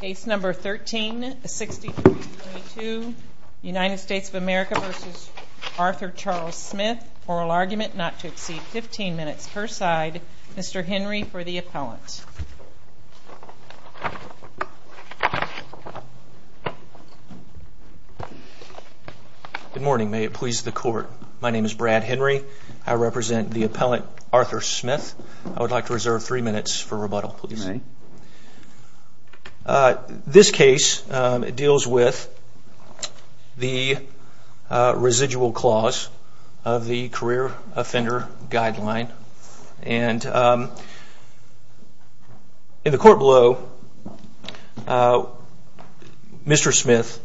Case number 13-6322, United States of America v. Arthur Charles Smith. Oral argument not to exceed 15 minutes per side. Mr. Henry for the appellant. Good morning. May it please the court. My name is Brad Henry. I represent the appellant Arthur Smith. I would like to reserve three minutes for rebuttal. This case deals with the residual clause of the career offender guideline. In the court below, Mr. Smith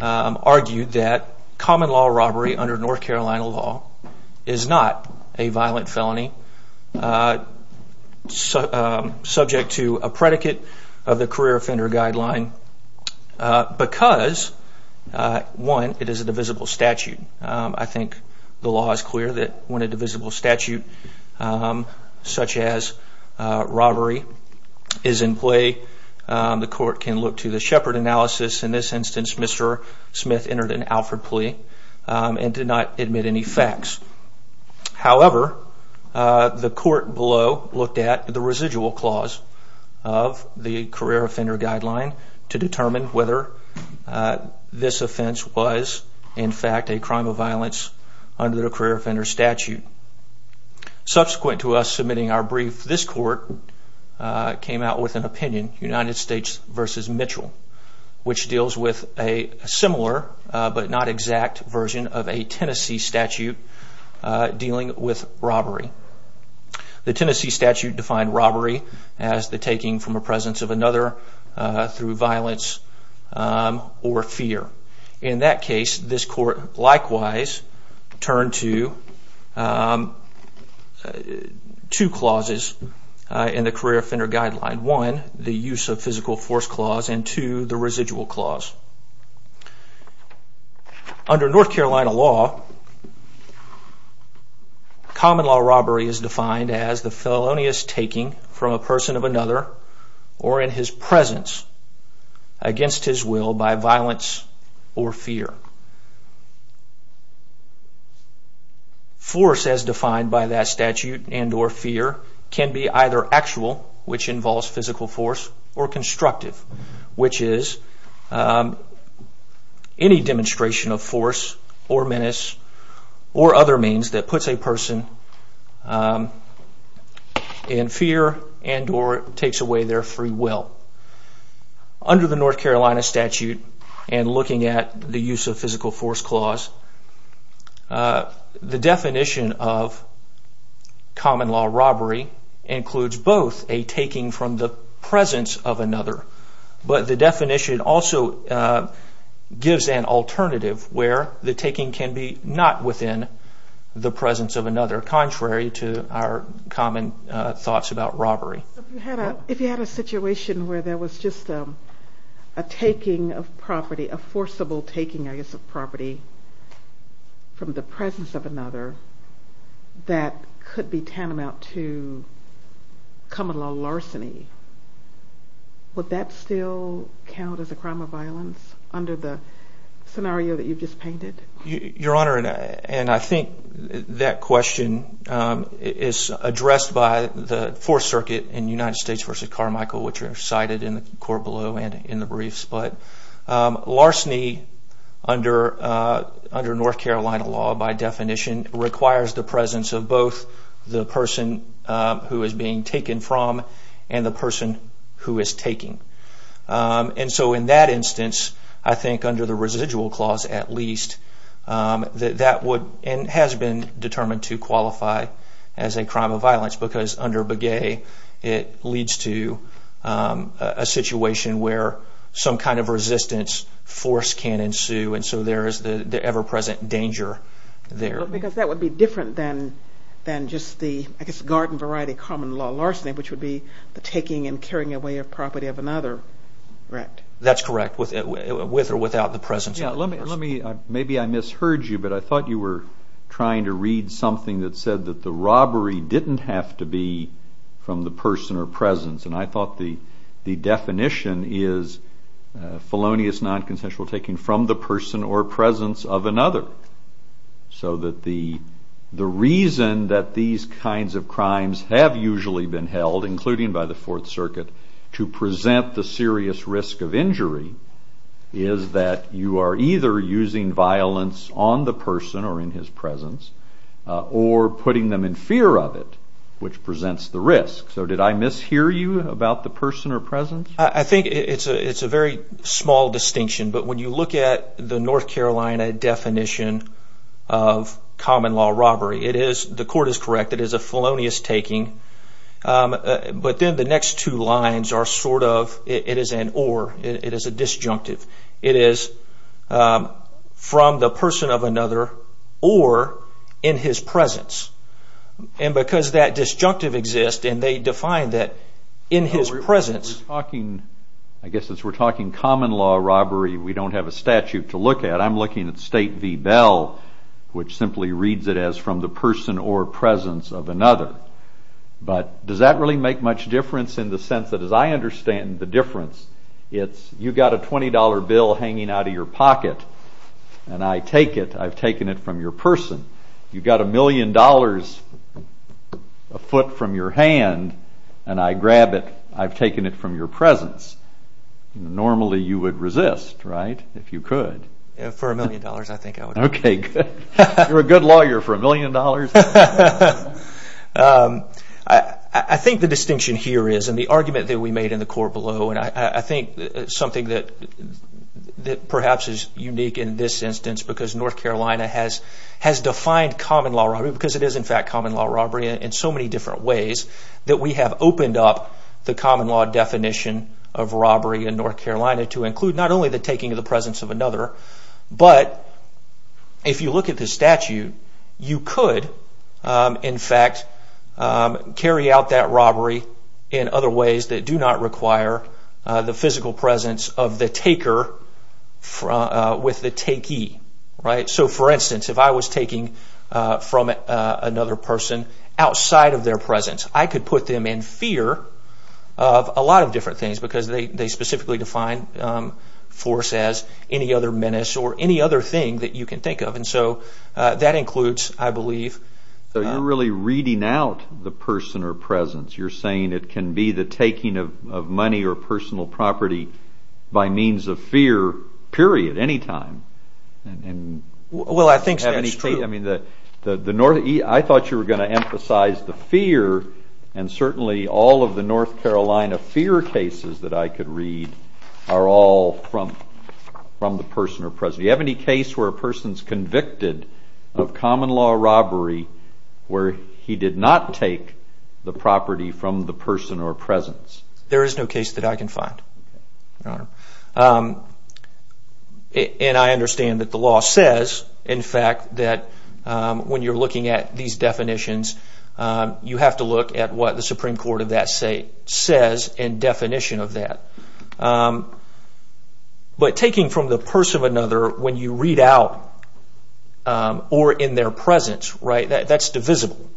argued that common law robbery under North to a predicate of the career offender guideline because, one, it is a divisible statute. I think the law is clear that when a divisible statute such as robbery is in play, the court can look to the Shepard analysis. In this instance, Mr. Smith entered an Alford plea and did not admit any facts. However, the court below looked at the residual clause of the career offender guideline to determine whether this offense was, in fact, a crime of violence under the career offender statute. Subsequent to us submitting our brief, this court came out with an opinion, United States v. Mitchell, which deals with robbery. The Tennessee statute defined robbery as the taking from a presence of another through violence or fear. In that case, this court likewise turned to two clauses in the career offender guideline. One, the use of physical force clause, and two, the residual clause. Under North common law robbery is defined as the felonious taking from a person of another or in his presence against his will by violence or fear. Force as defined by that statute and or fear can be either actual, which involves physical force, or constructive, which is any demonstration of force or other means that puts a person in fear and or takes away their free will. Under the North Carolina statute and looking at the use of physical force clause, the definition of common law robbery includes both a taking from the presence of another, but the definition also gives an alternative where the the presence of another contrary to our common thoughts about robbery. If you had a situation where there was just a taking of property, a forcible taking, I guess, of property from the presence of another that could be tantamount to common law larceny, would that still count as a crime of violence under the scenario that you've painted? Your Honor, and I think that question is addressed by the Fourth Circuit in United States versus Carmichael, which are cited in the court below and in the briefs. But larceny under under North Carolina law by definition requires the presence of both the person who is being taken from and the person who is taking. And so in that instance, I think under the residual clause, at least, that would and has been determined to qualify as a crime of violence because under Begay, it leads to a situation where some kind of resistance force can ensue. And so there is the ever present danger there. Because that would be different than than just the, I guess, garden variety common law larceny, which would be the taking and carrying away of property of another. Right. That's correct. With or without the presence. Let me, maybe I misheard you, but I thought you were trying to read something that said that the robbery didn't have to be from the person or presence. And I thought the the definition is felonious non-consensual taking from the person or presence of another. So that the the reason that these kinds of crimes have usually been held, including by the Fourth Circuit, to present the serious risk of injury is that you are either using violence on the person or in his presence or putting them in fear of it, which presents the risk. So did I mishear you about the person or presence? I think it's a it's a very small distinction. But when you look at the North Carolina definition of common law robbery, it is, the court is correct, it is a felonious taking. But then the next two lines are sort of, it is an or, it is a disjunctive. It is from the person of another or in his presence. And because that disjunctive exists, and they define that in his presence. We're talking, I guess, as we're talking common law robbery, we don't have a statute to look at. I'm looking at State v. Bell, which simply reads it as from the person or presence of another. But does that really make much difference in the sense that, as I understand the difference, it's you got a $20 bill hanging out of your pocket, and I take it, I've taken it from your person. You've got a million dollars a foot from your hand, and I grab it, I've taken it from your presence. Normally you would resist, right, if you could. For a good lawyer, for a million dollars. I think the distinction here is, and the argument that we made in the court below, and I think something that perhaps is unique in this instance, because North Carolina has defined common law robbery, because it is in fact common law robbery in so many different ways, that we have opened up the common law definition of robbery in North Carolina to include not only the taking of the presence of another, but if you look at the statute, you could in fact carry out that robbery in other ways that do not require the physical presence of the taker with the takee. So for instance, if I was taking from another person outside of their presence, I could put them in fear of a force as any other menace or any other thing that you can think of, and so that includes, I believe. So you're really reading out the person or presence. You're saying it can be the taking of money or personal property by means of fear, period, any time. Well, I think that's true. I thought you were going to emphasize the fear, and certainly all of the North Carolina fear cases that I have, is the taking of property from the person or presence. Do you have any case where a person is convicted of common law robbery, where he did not take the property from the person or presence? There is no case that I can find, Your Honor. And I understand that the law says, in fact, that when you're looking at these definitions, you have to look at what the Supreme Court of that say, says in definition of that. But taking from the purse of another, when you read out, or in their presence, that's divisible.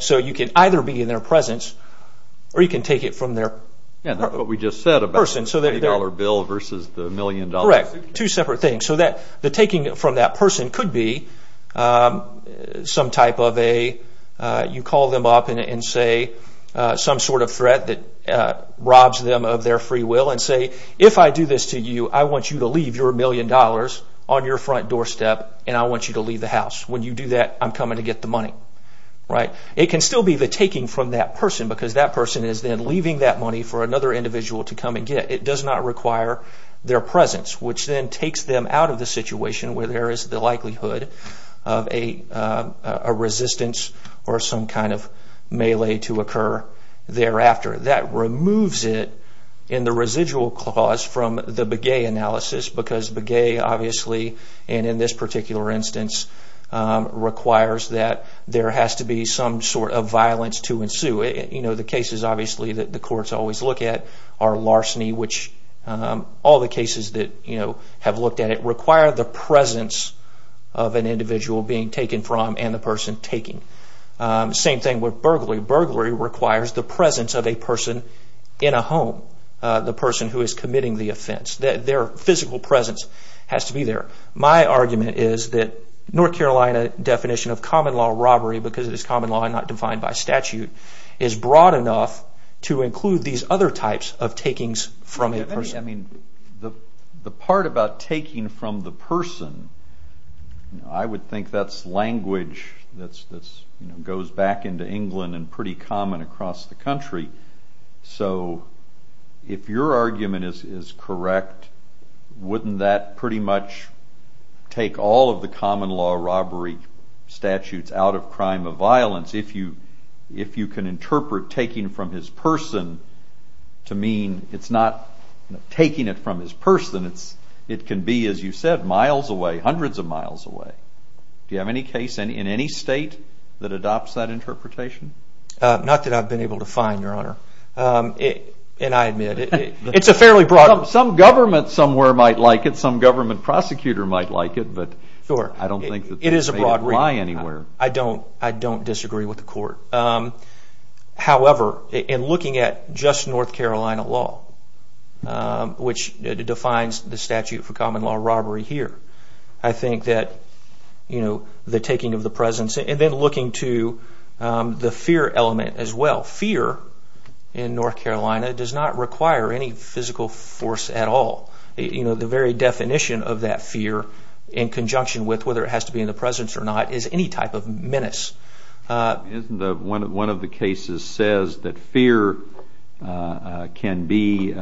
So you can either be in their presence, or you can take it from their purse of a person. Yeah, that's what we just said about the $30 bill versus the $1,000,000... Correct. Two separate things. So the taking from that person could be some type of a, you call them up and say some sort of threat that robs them of their free will, and say, if I do this to you, I want you to leave your $1,000,000 on your front doorstep, and I want you to leave the house. When you do that, I'm coming to get the money. It can still be the taking from that person, because that person is then leaving that money for another individual to come and get. It does not require their presence, which then takes them out of the situation where there is the likelihood of a resistance or some kind of melee to occur. Thereafter, that removes it in the residual clause from the Begay analysis, because Begay, obviously, and in this particular instance, requires that there has to be some sort of violence to ensue. You know, the cases, obviously, that the courts always look at are larceny, which all the cases that have looked at it require the presence of an individual being taken from and the person taking. Same thing with burglary. Burglary requires the presence of a person in a home, the person who is committing the offense. Their physical presence has to be there. My argument is that North Carolina definition of common law robbery, because it is common law and not defined by statute, is broad enough to include these other types of takings from a person. I mean, the part about taking from the person, I would think that is language that goes back into England and pretty common across the country, so if your argument is correct, wouldn't that pretty much take all of the common law robbery statutes out of crime of violence, if you can interpret taking from his person to mean it is not taking it from his person, it can be, as you said, miles away, hundreds of miles away. Do you have any case in any state that adopts that interpretation? Not that I've been able to find, Your Honor. And I admit, it's a fairly broad... Some government somewhere might like it, some government prosecutor might like it, but I don't think that they would apply anywhere. I don't disagree with the court. However, in looking at just North Carolina law, which defines the statute for common law robbery here, I think that the taking of the presence, and then looking to the fear element as well, fear in North Carolina does not require any physical force at all. The very definition of that fear, in conjunction with whether it has to be in the presence or not, is any type of menace. One of the cases says that fear can be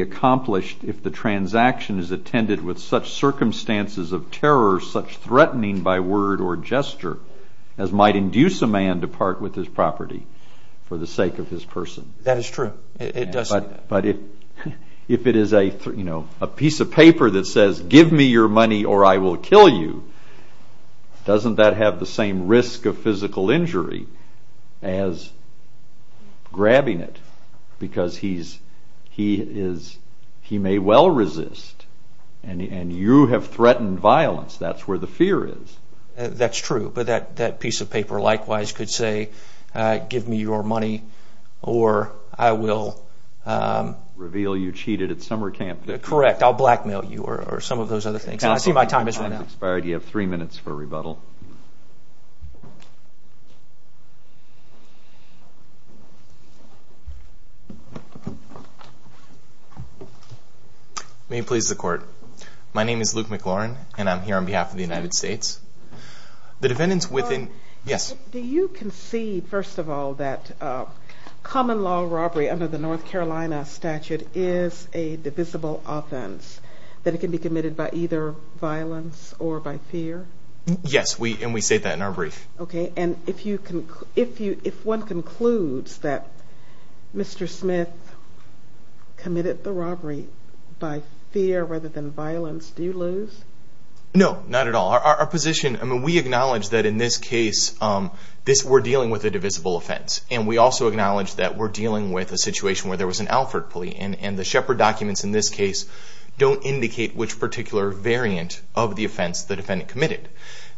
accomplished if the transaction is attended with such circumstances of terror, such threatening by word or gesture, as might induce a man to part with his property for the sake of his person. That is true. It does say that. But if it is a piece of paper that says, give me your money or I will kill you, doesn't that have the same risk of physical injury as grabbing it? Because he may well resist, and you have threatened violence. That's where the fear is. That's true. But that piece of paper likewise could say, give me your money or I will... Reveal you cheated at summer camp. Correct. I'll blackmail you or some of those other things. I see my time has run out. Your time has expired. You have three minutes for rebuttal. May it please the court. My name is Luke McLaurin and I'm here on behalf of the United States. Do you concede, first of all, that common law robbery under the North Carolina statute is a divisible offense, that it can be committed by either violence or by fear? Yes, and we state that in our brief. Okay, and if one concludes that Mr. Smith committed the robbery by fear rather than violence, do you lose? No, not at all. Our position, I mean, we acknowledge that in this case, we're dealing with a divisible offense. And we also acknowledge that we're dealing with a situation where there was an Alford police, and the Shepard documents in this case don't indicate which particular variant of the offense the defendant committed.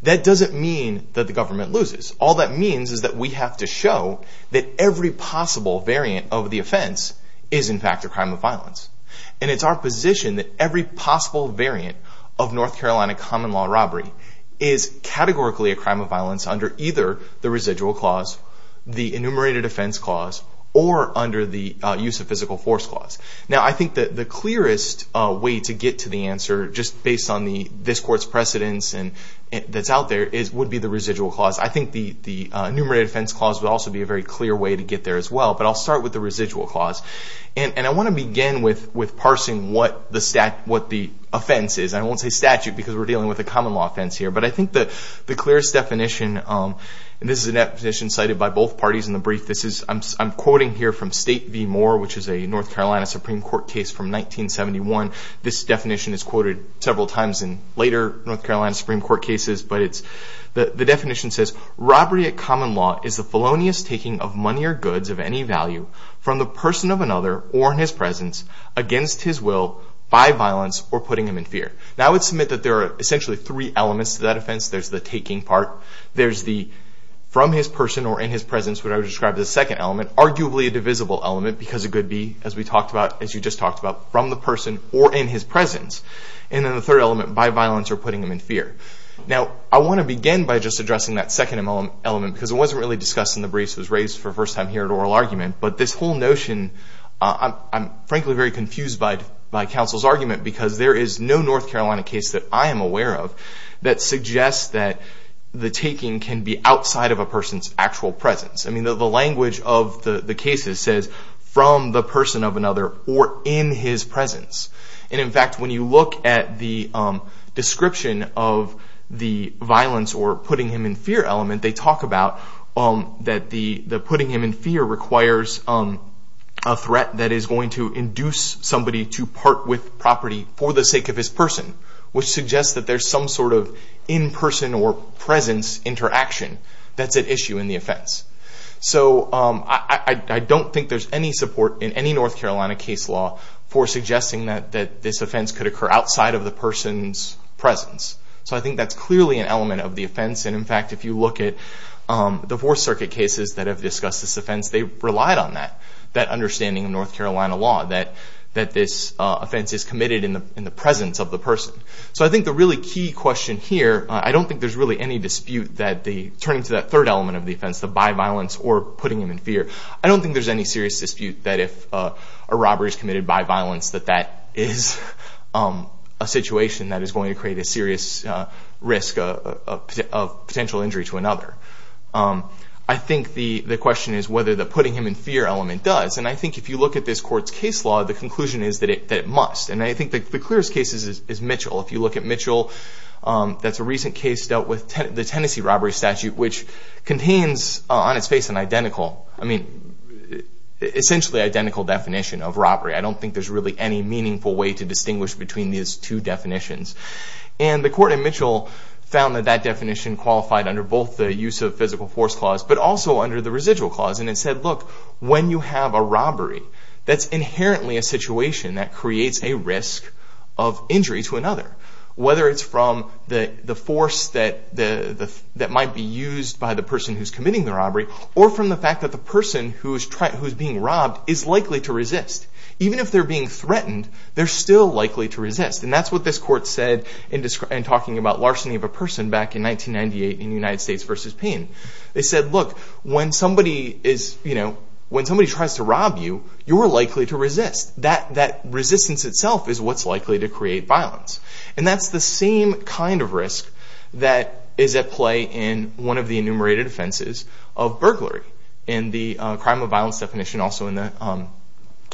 That doesn't mean that the government loses. All that means is that we have to show that every possible variant of the offense is, in fact, a crime of violence. And it's our position that every possible variant of North Carolina common law robbery is categorically a crime of violence under either the residual clause, the enumerated offense clause, or under the use of physical force clause. Now, I think that the clearest way to get to the answer, just based on this court's precedence that's out there, would be the residual clause. I think the enumerated offense clause would also be a very clear way to get there as well. But I'll start with the residual clause. And I want to begin with parsing what the offense is. I won't say statute because we're dealing with a common law offense here. But I think that the clearest definition, and this is a definition cited by both parties in the brief. I'm quoting here from State v. Moore, which is a North Carolina Supreme Court case from 1971. This definition is quoted several times in later North Carolina Supreme Court cases. But the definition says, Robbery at common law is the felonious taking of money or goods of any value from the person of another or in his presence against his will by violence or putting him in fear. Now, I would submit that there are essentially three elements to that offense. There's the taking part. There's the from his person or in his presence, which I would describe as the second element. Arguably a divisible element because it could be, as we talked about, as you just talked about, from the person or in his presence. And then the third element, by violence or putting him in fear. Now, I want to begin by just addressing that second element because it wasn't really discussed in the briefs. It was raised for the first time here at oral argument. But this whole notion, I'm frankly very confused by counsel's argument because there is no North Carolina case that I am aware of that suggests that the taking can be outside of a person's actual presence. I mean, the language of the cases says from the person of another or in his presence. And in fact, when you look at the description of the violence or putting him in fear element, they talk about that the putting him in fear requires a threat that is going to induce somebody to part with property for the sake of his person, which suggests that there's some sort of in-person or presence interaction that's at issue in the offense. So I don't think there's any support in any North Carolina case law for suggesting that this offense could occur outside of the person's presence. So I think that's clearly an element of the offense. And in fact, if you look at the Fourth Circuit cases that have discussed this offense, they relied on that, that understanding of North Carolina law that this offense is committed in the presence of the person. So I think the really key question here, I don't think there's really any dispute that turning to that third element of the offense, the by violence or putting him in fear, I don't think there's any serious dispute that if a robber is committed by violence, that that is a situation that is going to create a serious risk of potential injury to another. I think the question is whether the putting him in fear element does. And I think if you look at this court's case law, the conclusion is that it must. And I think the clearest case is Mitchell. If you look at Mitchell, that's a recent case dealt with the Tennessee robbery statute, which contains on its face an identical, I mean, essentially identical definition of robbery. I don't think there's really any meaningful way to distinguish between these two definitions. And the court in Mitchell found that that definition qualified under both the use of physical force clause, but also under the residual clause. And it said, look, when you have a robbery, that's inherently a situation that creates a risk of injury to another, whether it's from the force that might be used by the person who's committing the robbery, or from the fact that the person who's being robbed is likely to resist. Even if they're being threatened, they're still likely to resist. And that's what this court said in talking about larceny of a person back in 1998 in United States versus Payne. They said, look, when somebody tries to rob you, you're likely to resist. That resistance itself is what's likely to create violence. And that's the same kind of risk that is at play in one of the enumerated offenses of burglary in the crime of violence definition, also in the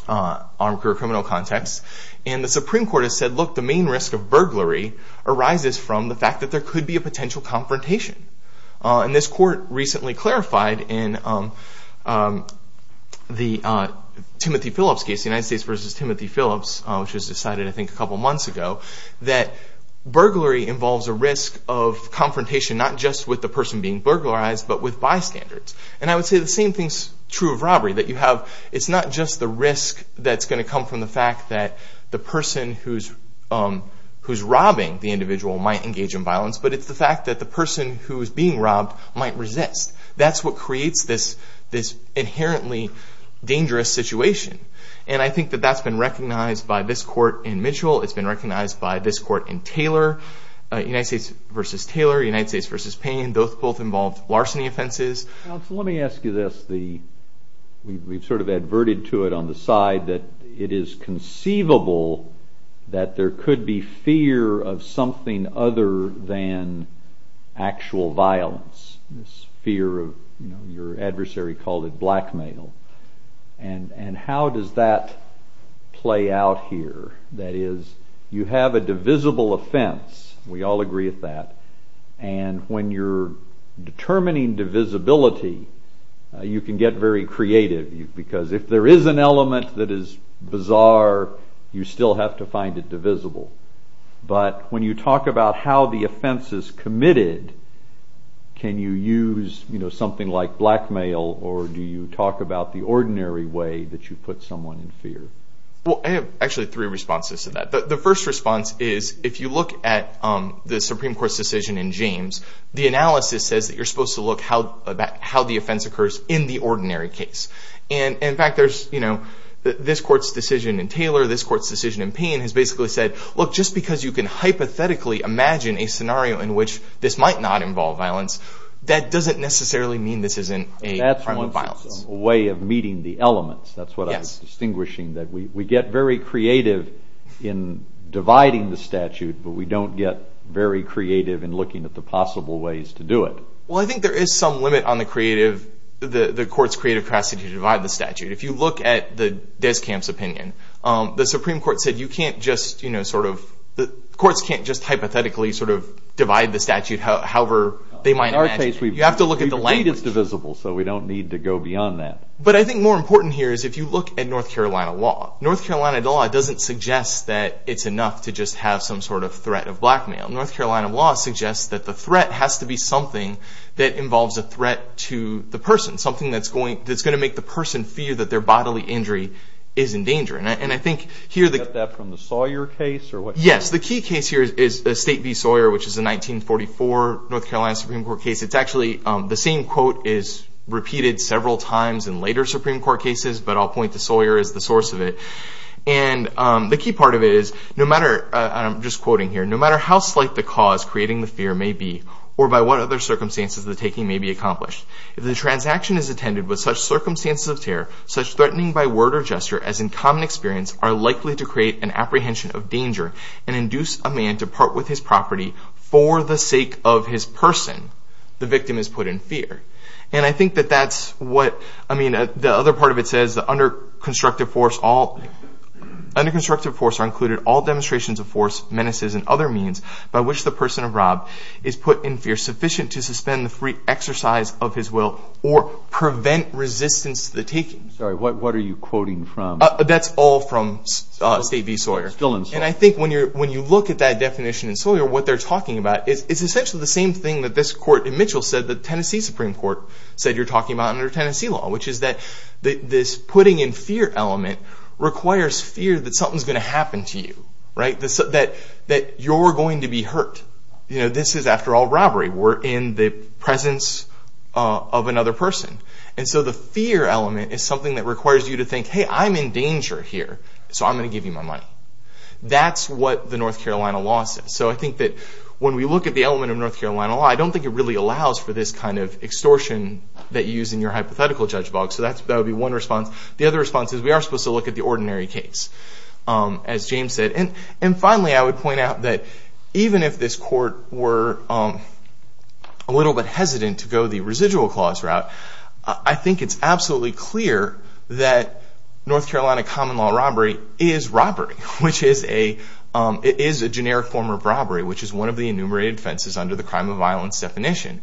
armed criminal context. And the Supreme Court has said, look, the main risk of burglary arises from the fact that there could be a potential confrontation. And this court recently clarified in the Timothy Phillips case, United States versus Timothy Phillips, which was decided I think a couple months ago, that burglary involves a risk of confrontation not just with the person being burglarized, but with bystanders. And I would say the same thing's true of robbery. It's not just the risk that's going to come from the fact that the person who's robbing the individual might engage in violence, but it's the fact that the person who's being robbed might resist. That's what creates this inherently dangerous situation. And I think that that's been recognized by this court in Mitchell. It's been recognized by this court in Taylor, United States versus Taylor, United States versus Payne. Both involved larceny offenses. Let me ask you this. We've sort of adverted to it on the side that it is conceivable that there could be fear of something other than actual violence. This fear of, you know, your adversary called it blackmail. And how does that play out here? That is, you have a divisible offense. We all agree with that. And when you're determining divisibility, you can get very creative. Because if there is an element that is bizarre, you still have to find it divisible. But when you talk about how the offense is committed, can you use, you know, something like blackmail, or do you talk about the ordinary way that you put someone in fear? Well, I have actually three responses to that. The first response is if you look at the Supreme Court's decision in James, the analysis says that you're supposed to look how the offense occurs in the ordinary case. And, in fact, there's, you know, this court's decision in Taylor, this court's decision in Payne has basically said, look, just because you can hypothetically imagine a scenario in which this might not involve violence, that doesn't necessarily mean this isn't a crime of violence. That's a way of meeting the elements. That's what I'm distinguishing, that we get very creative in dividing the statute, but we don't get very creative in looking at the possible ways to do it. Well, I think there is some limit on the creative, the court's creative capacity to divide the statute. If you look at Deskamp's opinion, the Supreme Court said you can't just, you know, sort of, the courts can't just hypothetically sort of divide the statute however they might imagine. In our case, you have to look at the language. We believe it's divisible, so we don't need to go beyond that. But I think more important here is if you look at North Carolina law, North Carolina law doesn't suggest that it's enough to just have some sort of threat of blackmail. North Carolina law suggests that the threat has to be something that involves a threat to the person, something that's going to make the person fear that their bodily injury is in danger. And I think here the- Is that from the Sawyer case or what? Yes. The key case here is State v. Sawyer, which is a 1944 North Carolina Supreme Court case. It's actually, the same quote is repeated several times in later Supreme Court cases, but I'll point to Sawyer as the source of it. And the key part of it is, no matter, and I'm just quoting here, no matter how slight the cause creating the fear may be, or by what other circumstances the taking may be accomplished, if the transaction is attended with such circumstances of terror, such threatening by word or gesture as in common experience, are likely to create an apprehension of danger and induce a man to part with his property for the sake of his person, the victim is put in fear. And I think that that's what, I mean, the other part of it says, under constructive force are included all demonstrations of force, menaces, and other means by which the person of rob is put in fear sufficient to suspend the free exercise of his will or prevent resistance to the taking. Sorry, what are you quoting from? That's all from State v. Sawyer. And I think when you look at that definition in Sawyer, what they're talking about, it's essentially the same thing that this court in Mitchell said, the Tennessee Supreme Court said you're talking about under Tennessee law, which is that this putting in fear element requires fear that something's going to happen to you, right? That you're going to be hurt. You know, this is, after all, robbery. We're in the presence of another person. And so the fear element is something that requires you to think, hey, I'm in danger here, so I'm going to give you my money. That's what the North Carolina law says. So I think that when we look at the element of North Carolina law, I don't think it really allows for this kind of extortion that you use in your hypothetical judge box. So that would be one response. The other response is we are supposed to look at the ordinary case, as James said. And finally, I would point out that even if this court were a little bit hesitant to go the residual clause route, I think it's absolutely clear that North Carolina common law robbery is robbery, which is a generic form of robbery, which is one of the enumerated offenses under the crime of violence definition.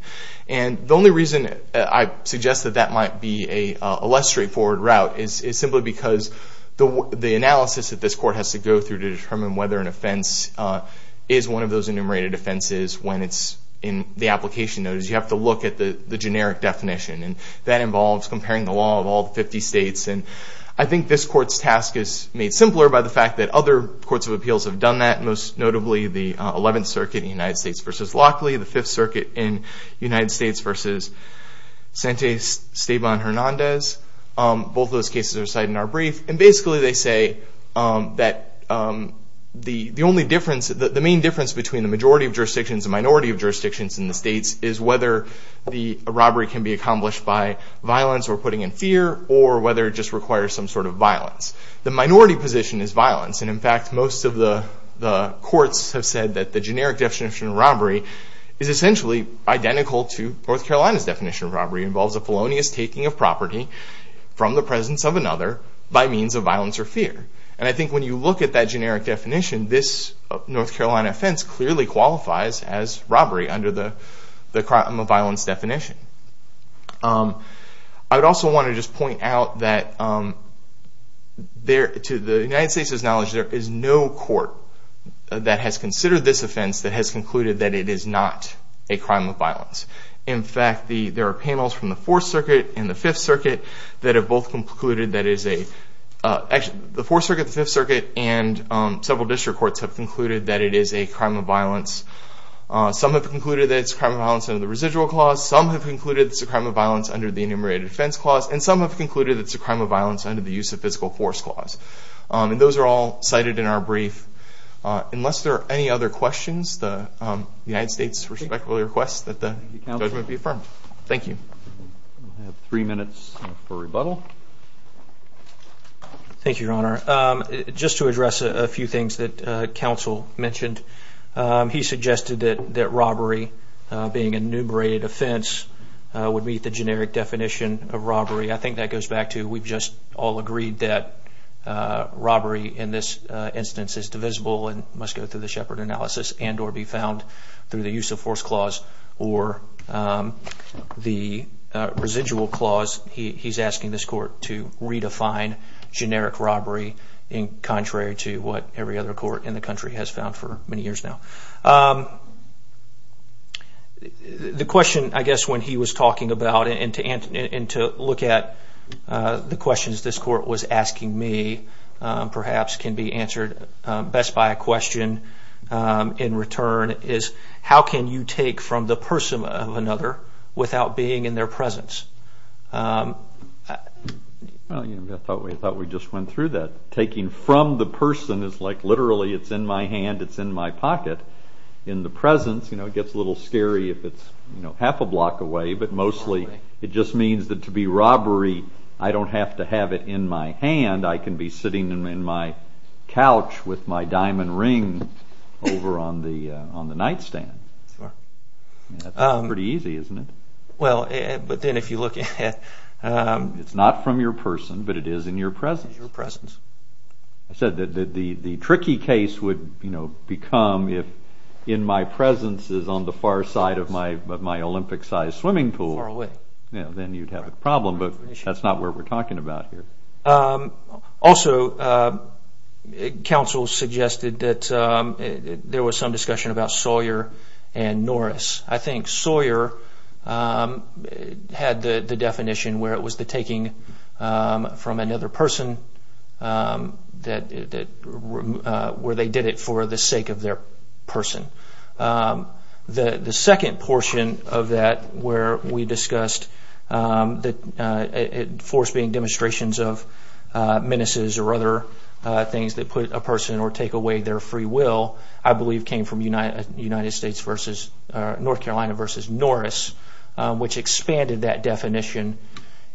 And the only reason I suggest that that might be a less straightforward route is simply because the analysis that this court has to go through to determine whether an offense is one of those enumerated offenses when it's in the application notice, you have to look at the generic definition. And that involves comparing the law of all 50 states. And I think this court's task is made simpler by the fact that other courts of appeals have done that, most notably the 11th Circuit in the United States versus Lockley, the 5th Circuit in the United States versus Sante Esteban Hernandez. Both of those cases are cited in our brief. And basically they say that the main difference between the majority of jurisdictions and minority of jurisdictions in the states is whether the robbery can be accomplished by violence or putting in fear or whether it just requires some sort of violence. The minority position is violence. And in fact, most of the courts have said that the generic definition of robbery is essentially identical to North Carolina's definition of robbery. It involves a felonious taking of property from the presence of another by means of violence or fear. And I think when you look at that generic definition, this North Carolina offense clearly qualifies as robbery under the crime of violence definition. I would also want to just point out that to the United States' knowledge, there is no court that has considered this offense that has concluded that it is not a crime of violence. In fact, there are panels from the 4th Circuit and the 5th Circuit that have both concluded that it is a – actually, the 4th Circuit, the 5th Circuit, and several district courts have concluded that it is a crime of violence. Some have concluded that it's a crime of violence under the residual clause. Some have concluded it's a crime of violence under the enumerated defense clause. And some have concluded it's a crime of violence under the use of physical force clause. And those are all cited in our brief. Unless there are any other questions, the United States respectfully requests that the judgment be affirmed. Thank you. We have three minutes for rebuttal. Thank you, Your Honor. Just to address a few things that counsel mentioned, he suggested that robbery being enumerated offense would meet the generic definition of robbery. I think that goes back to we've just all agreed that robbery in this instance is divisible and must go through the Shepard analysis and or be found through the use of force clause or the residual clause. He's asking this court to redefine generic robbery in contrary to what every other court in the country has found for many years now. The question I guess when he was talking about and to look at the questions this court was asking me perhaps can be answered best by a question in return is how can you take from the person of another without being in their presence? I thought we just went through that. Taking from the person is like literally it's in my hand, it's in my pocket. In the presence, it gets a little scary if it's half a block away, but mostly it just means that to be robbery I don't have to have it in my hand. I can be sitting in my couch with my diamond ring over on the nightstand. That's pretty easy, isn't it? Well, but then if you look at... It's not from your person, but it is in your presence. I said that the tricky case would become if in my presence is on the far side of my Olympic-sized swimming pool, then you'd have a problem, but that's not what we're talking about here. Also, counsel suggested that there was some discussion about Sawyer and Norris. I think Sawyer had the definition where it was the taking from another person where they did it for the sake of their person. The second portion of that where we discussed force being demonstrations of menaces or other things that put a person or take away their free will, I believe came from North Carolina versus Norris, which expanded that definition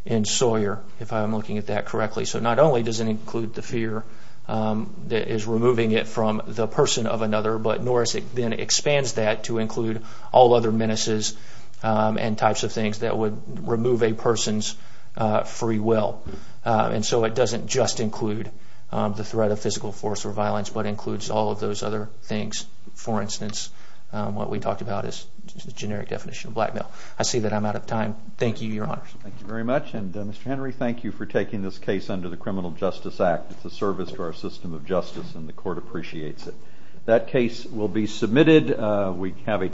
in Sawyer, if I'm looking at that correctly. So not only does it include the fear that is removing it from the person of another, but Norris then expands that to include all other menaces and types of things that would remove a person's free will. So it doesn't just include the threat of physical force or violence, but includes all of those other things. For instance, what we talked about is the generic definition of blackmail. I see that I'm out of time. Thank you, Your Honors. Thank you very much, and Mr. Henry, thank you for taking this case under the Criminal Justice Act. It's a service to our system of justice, and the court appreciates it. That case will be submitted.